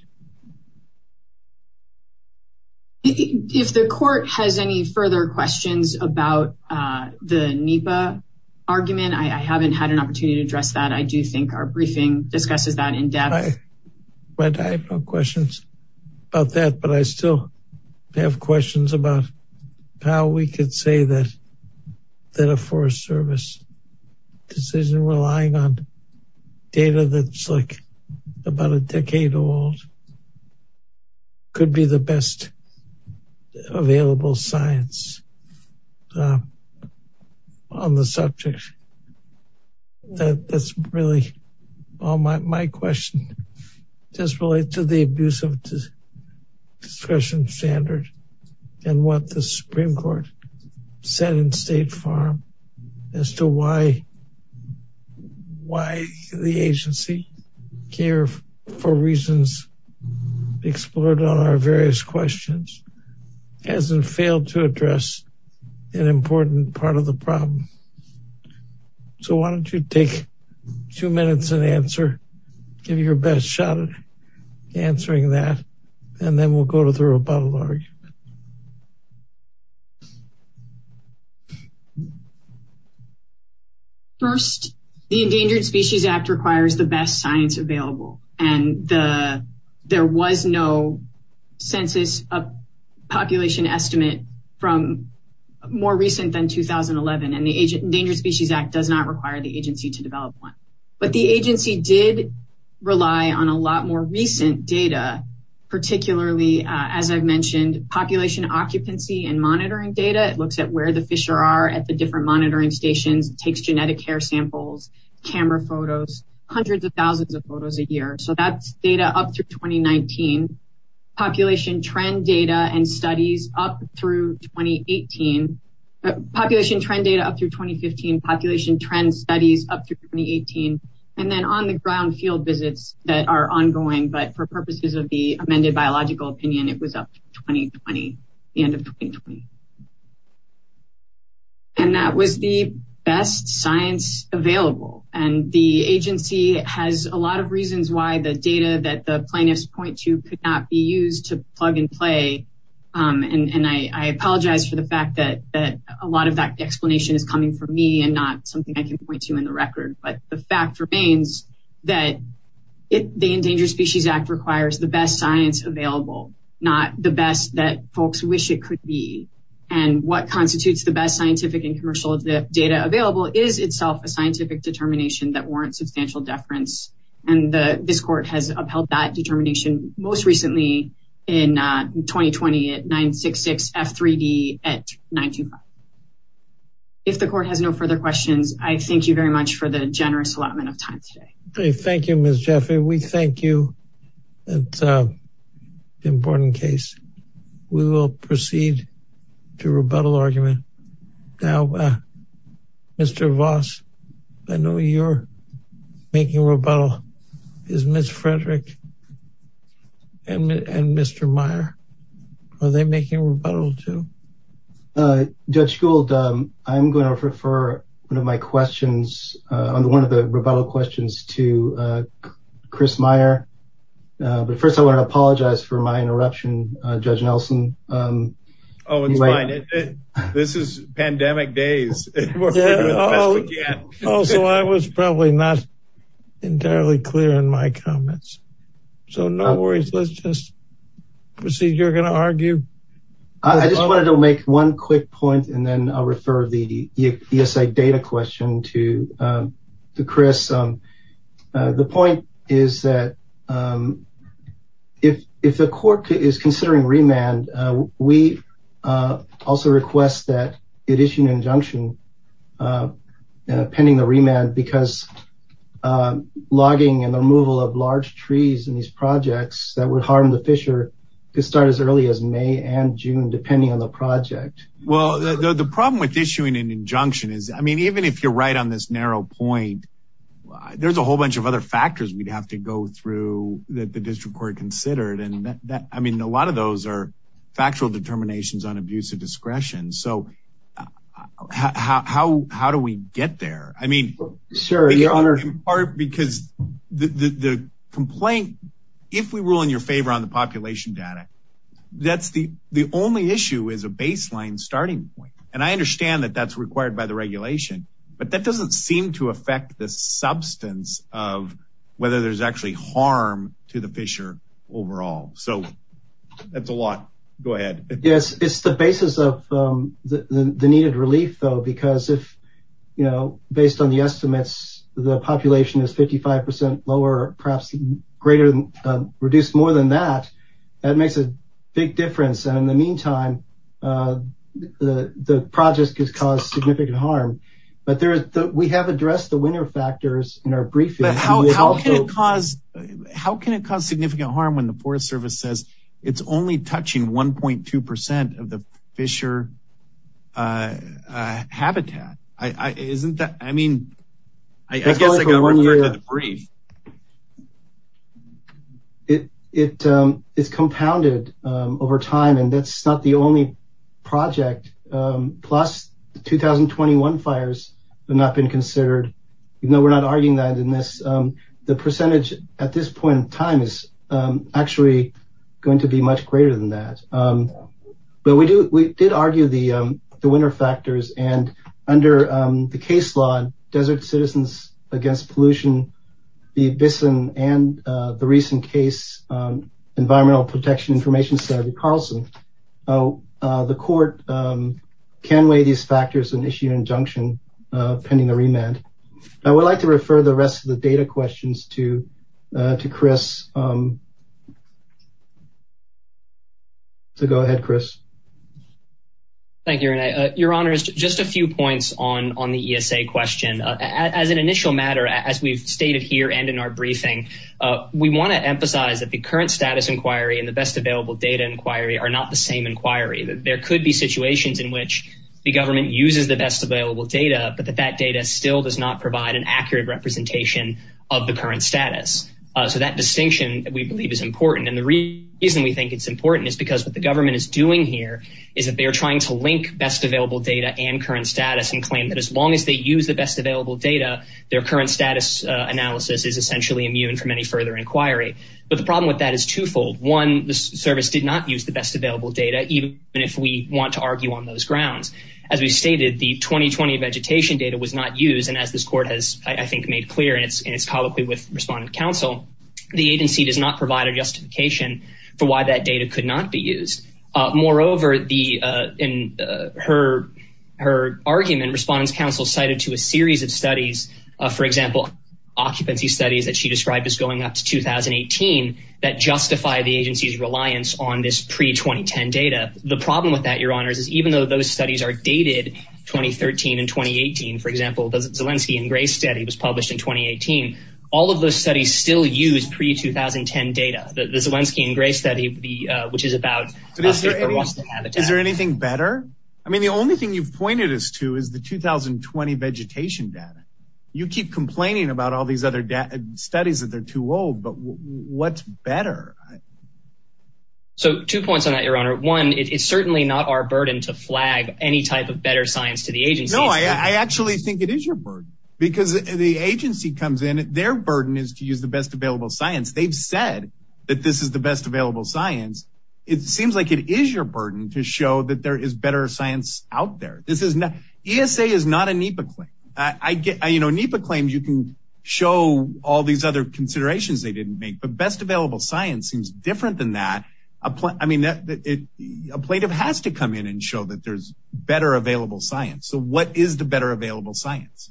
if the court has any further questions about uh the nipa argument i i haven't had an opportunity to address that i do think our briefing discusses that in depth but i have no questions about that but i still have questions about how we could say that that a forest service decision relying on data that's like about a decade old could be the best available science on the subject that that's really all my my question just relates to the abuse of discretion standard and what the supreme court said in state farm as to why why the agency care for reasons explored on our various questions hasn't failed to address an important part of the problem so why don't you take two minutes and answer give your best shot answering that and then we'll go to throw about a large first the endangered species act requires the best science available and the there was no census a population estimate from more recent than 2011 and the agent endangered species act not require the agency to develop one but the agency did rely on a lot more recent data particularly as i've mentioned population occupancy and monitoring data it looks at where the fisher are at the different monitoring stations takes genetic care samples camera photos hundreds of thousands of photos a year so that's data up through 2019 population trend data and studies up through 2018 population trend data up through 2015 population trend studies up through 2018 and then on the ground field visits that are ongoing but for purposes of the amended biological opinion it was up 2020 the end of 2020 and that was the best science available and the agency has a lot of reasons why the data that the plaintiffs point to could not be used to plug and play um and and i i apologize for the fact that that a lot of that explanation is coming from me and not something i can point to in the record but the fact remains that it the endangered species act requires the best science available not the best that folks wish it could be and what constitutes the best scientific and commercial data available is itself a scientific determination that warrants substantial deference and the this court has upheld that most recently in 2020 at 966 f3d at 925 if the court has no further questions i thank you very much for the generous allotment of time today okay thank you miss jeffrey we thank you that the important case we will proceed to rebuttal argument now uh mr voss i know you're making a rebuttal is miss frederick and and mr meyer are they making a rebuttal to uh judge gold um i'm going to refer one of my questions uh on one of the rebuttal questions to uh chris meyer uh but first i want to apologize for my interruption uh judge nelson um oh it's fine this is pandemic days also i was probably not entirely clear in my comments so no worries let's just proceed you're going to argue i just wanted to make one quick point and then i'll refer the esi data question to um to chris um the point is that um if if the court is considering remand we uh also request that it issue an injunction uh pending the remand because logging and the removal of large trees in these projects that would harm the fisher could start as early as may and june depending on the project well the problem with issuing an injunction is i mean even if you're right on this narrow point there's a whole bunch of other factors we'd have to go through that the district court considered and that i mean a lot of those are factual determinations on abuse of discretion so how how how do we get there i mean sure you're honored in part because the the complaint if we rule in your favor on the population data that's the the only issue is a baseline starting point and i understand that that's required by the regulation but that doesn't seem to affect the substance of whether there's actually harm to the fisher overall so that's a lot go ahead yes it's the basis of um the needed relief though because if you know based on the estimates the population is 55 percent lower perhaps greater than reduced more than that that makes a big difference and in the meantime uh the the project has caused significant harm but there we have addressed the winner factors in our briefing how can it cause how can it cause significant harm when the forest service says it's only touching 1.2 percent of the fisher uh uh habitat i i isn't that i mean i guess it it um is compounded um over time and that's not the only project um plus the 2021 fires have not been considered even though we're not arguing that in this um the percentage at this point in time is um actually going to be much greater than that um but we do we did argue the um the winner factors and under um the case law desert citizens against pollution the abyss and and uh the recent case um environmental protection information center carlson oh uh court um can weigh these factors and issue an injunction uh pending the remand i would like to refer the rest of the data questions to uh to chris um so go ahead chris thank you your honor is just a few points on on the esa question as an initial matter as we've stated here and in our briefing uh we want to emphasize that the current status inquiry and the best available data inquiry are not the same inquiry that there could be situations in which the government uses the best available data but that that data still does not provide an accurate representation of the current status uh so that distinction we believe is important and the reason we think it's important is because what the government is doing here is that they are trying to link best available data and current status and claim that as long as they use the best available data their current status analysis is essentially immune from any inquiry but the problem with that is twofold one the service did not use the best available data even if we want to argue on those grounds as we stated the 2020 vegetation data was not used and as this court has i think made clear and it's colloquy with respondent council the agency does not provide a justification for why that data could not be used uh moreover the uh in her her argument respondents council cited to a series of studies uh for example occupancy studies that she described as going up to 2018 that justify the agency's reliance on this pre-2010 data the problem with that your honors is even though those studies are dated 2013 and 2018 for example zelensky and gray study was published in 2018 all of those studies still use pre-2010 data the zelensky and gray study the uh which is about is there anything better i mean the only thing you've pointed us to is the 2020 vegetation data you keep complaining about all these other studies that they're too old but what's better so two points on that your honor one it's certainly not our burden to flag any type of better science to the agency no i i actually think it is your burden because the agency comes in their burden is to use the best available science they've said that this is the best available science it seems like it is your burden to show that there is out there this is not esa is not a nipa claim i get you know nipa claims you can show all these other considerations they didn't make but best available science seems different than that a point i mean that it a plaintiff has to come in and show that there's better available science so what is the better available science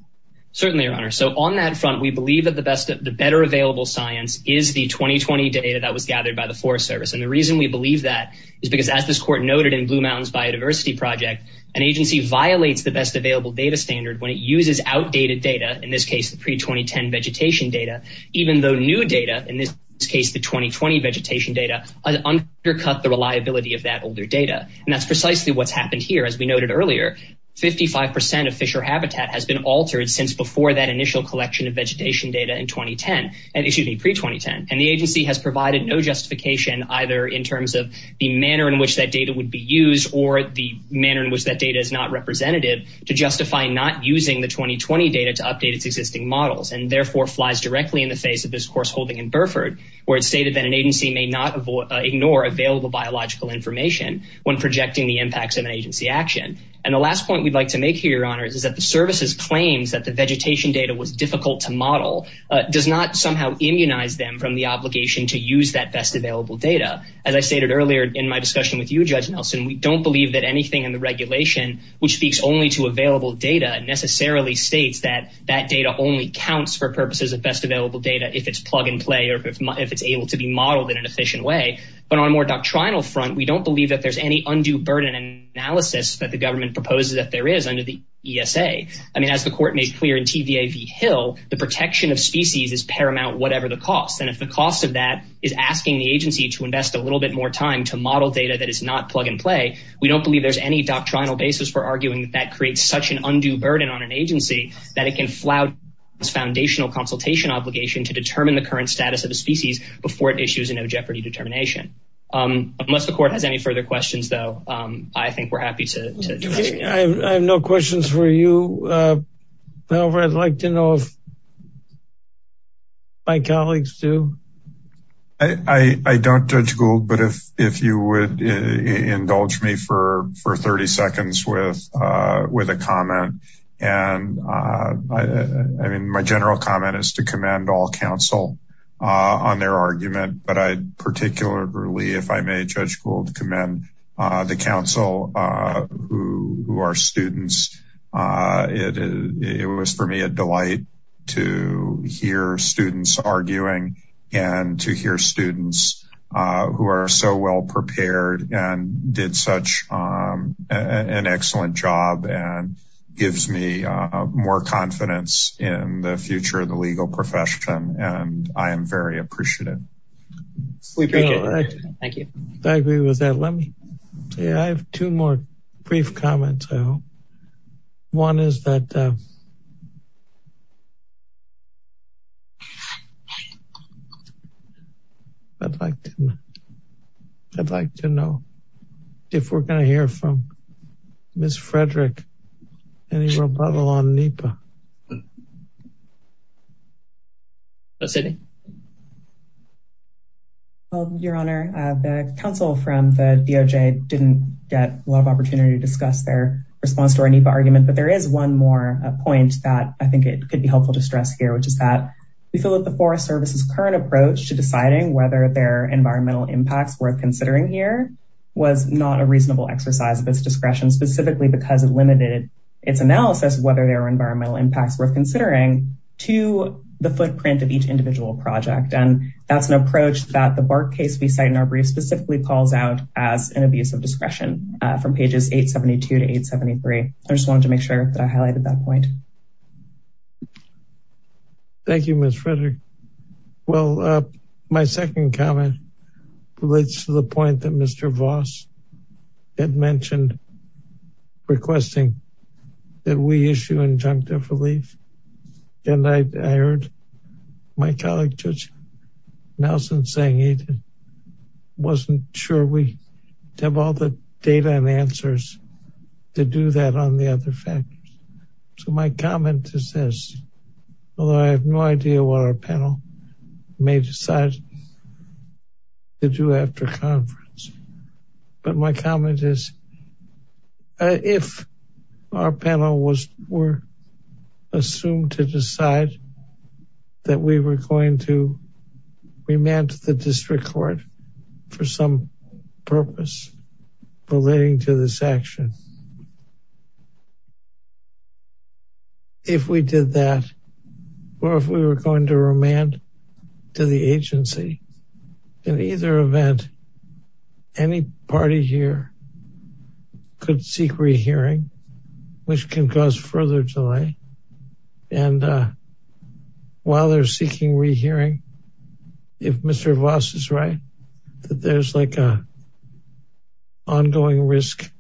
certainly your honor so on that front we believe that the best the better available science is the 2020 data that was gathered by the forest service and the we believe that is because as this court noted in blue mountains biodiversity project an agency violates the best available data standard when it uses outdated data in this case the pre-2010 vegetation data even though new data in this case the 2020 vegetation data undercut the reliability of that older data and that's precisely what's happened here as we noted earlier 55 percent of fisher habitat has been altered since before that initial collection of vegetation data in 2010 and excuse me pre-2010 and the agency has provided no justification either in terms of the manner in which that data would be used or the manner in which that data is not representative to justify not using the 2020 data to update its existing models and therefore flies directly in the face of this course holding in burford where it's stated that an agency may not ignore available biological information when projecting the impacts of an agency action and the last point we'd like to make here your honor is that the services claims that the vegetation data was difficult to model does not somehow immunize them from the obligation to use that best available data as i stated earlier in my discussion with you judge nelson we don't believe that anything in the regulation which speaks only to available data necessarily states that that data only counts for purposes of best available data if it's plug and play or if it's able to be modeled in an efficient way but on a more doctrinal front we don't believe that there's any undue burden and analysis that the government proposes that there is under the esa i mean as the court made clear in tvav hill the protection of species is paramount whatever the cost and if the cost of that is asking the agency to invest a little bit more time to model data that is not plug and play we don't believe there's any doctrinal basis for arguing that creates such an undue burden on an agency that it can flout its foundational consultation obligation to determine the current status of a species before it issues a no jeopardy determination um unless the court has any further questions though um i think we're happy to i have no questions for you uh however i'd like to know if my colleagues do i i i don't judge gold but if if you would indulge me for for 30 seconds with uh with a comment and uh i i mean my general comment is to commend all counsel uh on their uh the council uh who who are students uh it it was for me a delight to hear students arguing and to hear students uh who are so well prepared and did such um an excellent job and gives me uh more confidence in the future of the legal profession and i am very appreciative we thank you i agree with that let me say i have two more brief comments though one is that uh i'd like to i'd like to know if we're going to hear from miss frederick any rebuttal on nipa um your honor uh the council from the doj didn't get a lot of opportunity to discuss their response to our nipa argument but there is one more point that i think it could be helpful to stress here which is that we feel that the forest service's current approach to deciding whether there are environmental impacts worth considering here was not a reasonable exercise of its discretion specifically because it limited its analysis whether there are environmental impacts worth considering to the footprint of each individual project and that's an approach that the bark case we cite in our brief specifically calls out as an abuse of discretion from pages 872 to 873 i just wanted to make sure that i highlighted that point thank you miss frederick well uh my second comment relates to the point that mr voss had mentioned requesting that we issue injunctive relief and i heard my colleague judge nelson saying he wasn't sure we have all the data and answers to do that on the other factors so my comment is this although i have no idea what our panel may decide to do after conference my comment is if our panel was were assumed to decide that we were going to remand to the district court for some purpose relating to this action if we did that or if we were going to remand to the agency in either event any party here could seek rehearing which can cause further delay and uh while they're seeking rehearing if mr voss is right that there's like a ongoing risk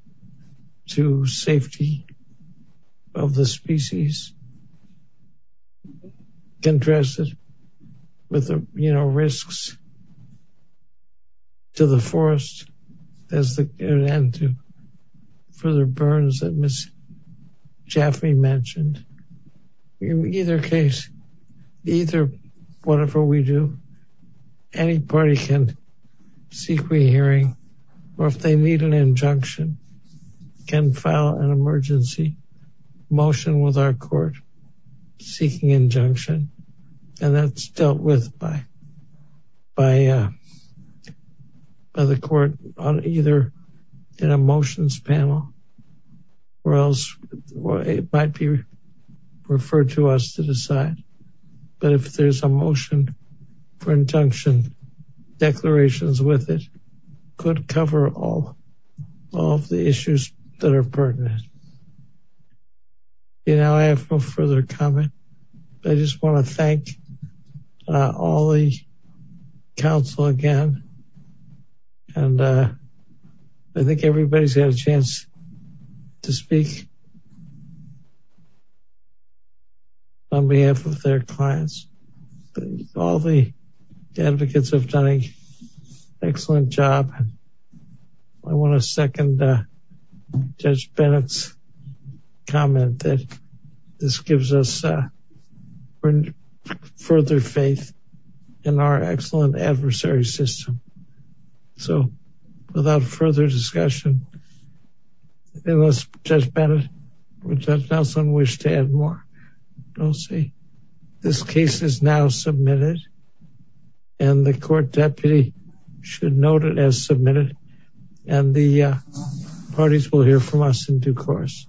to safety of the species uh can address it with the you know risks to the forest as the and to further burns that miss jaffe mentioned in either case either whatever we do any party can seek rehearing or if they need an injunction can file an emergency motion with our court seeking injunction and that's dealt with by by uh by the court on either in a motions panel or else it might be referred to us to decide but if there's a motion for injunction declarations with it could cover all of the issues that are pertinent you know i have no further comment i just want to thank all the council again and uh i think everybody's had a chance to speak uh on behalf of their clients all the advocates have done an excellent job i want to second judge bennett's comment that this gives us further faith in our excellent adversary system so without further discussion unless judge bennett or judge nelson wish to add more don't see this case is now submitted and the court deputy should note it as submitted and the parties will hear from us in due course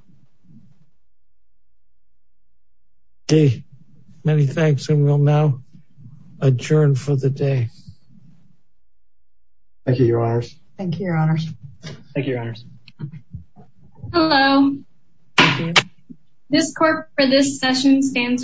okay many thanks and we'll now adjourn for the day thank you your honors thank you your honors thank you your honors hello this court for this session stands adjourned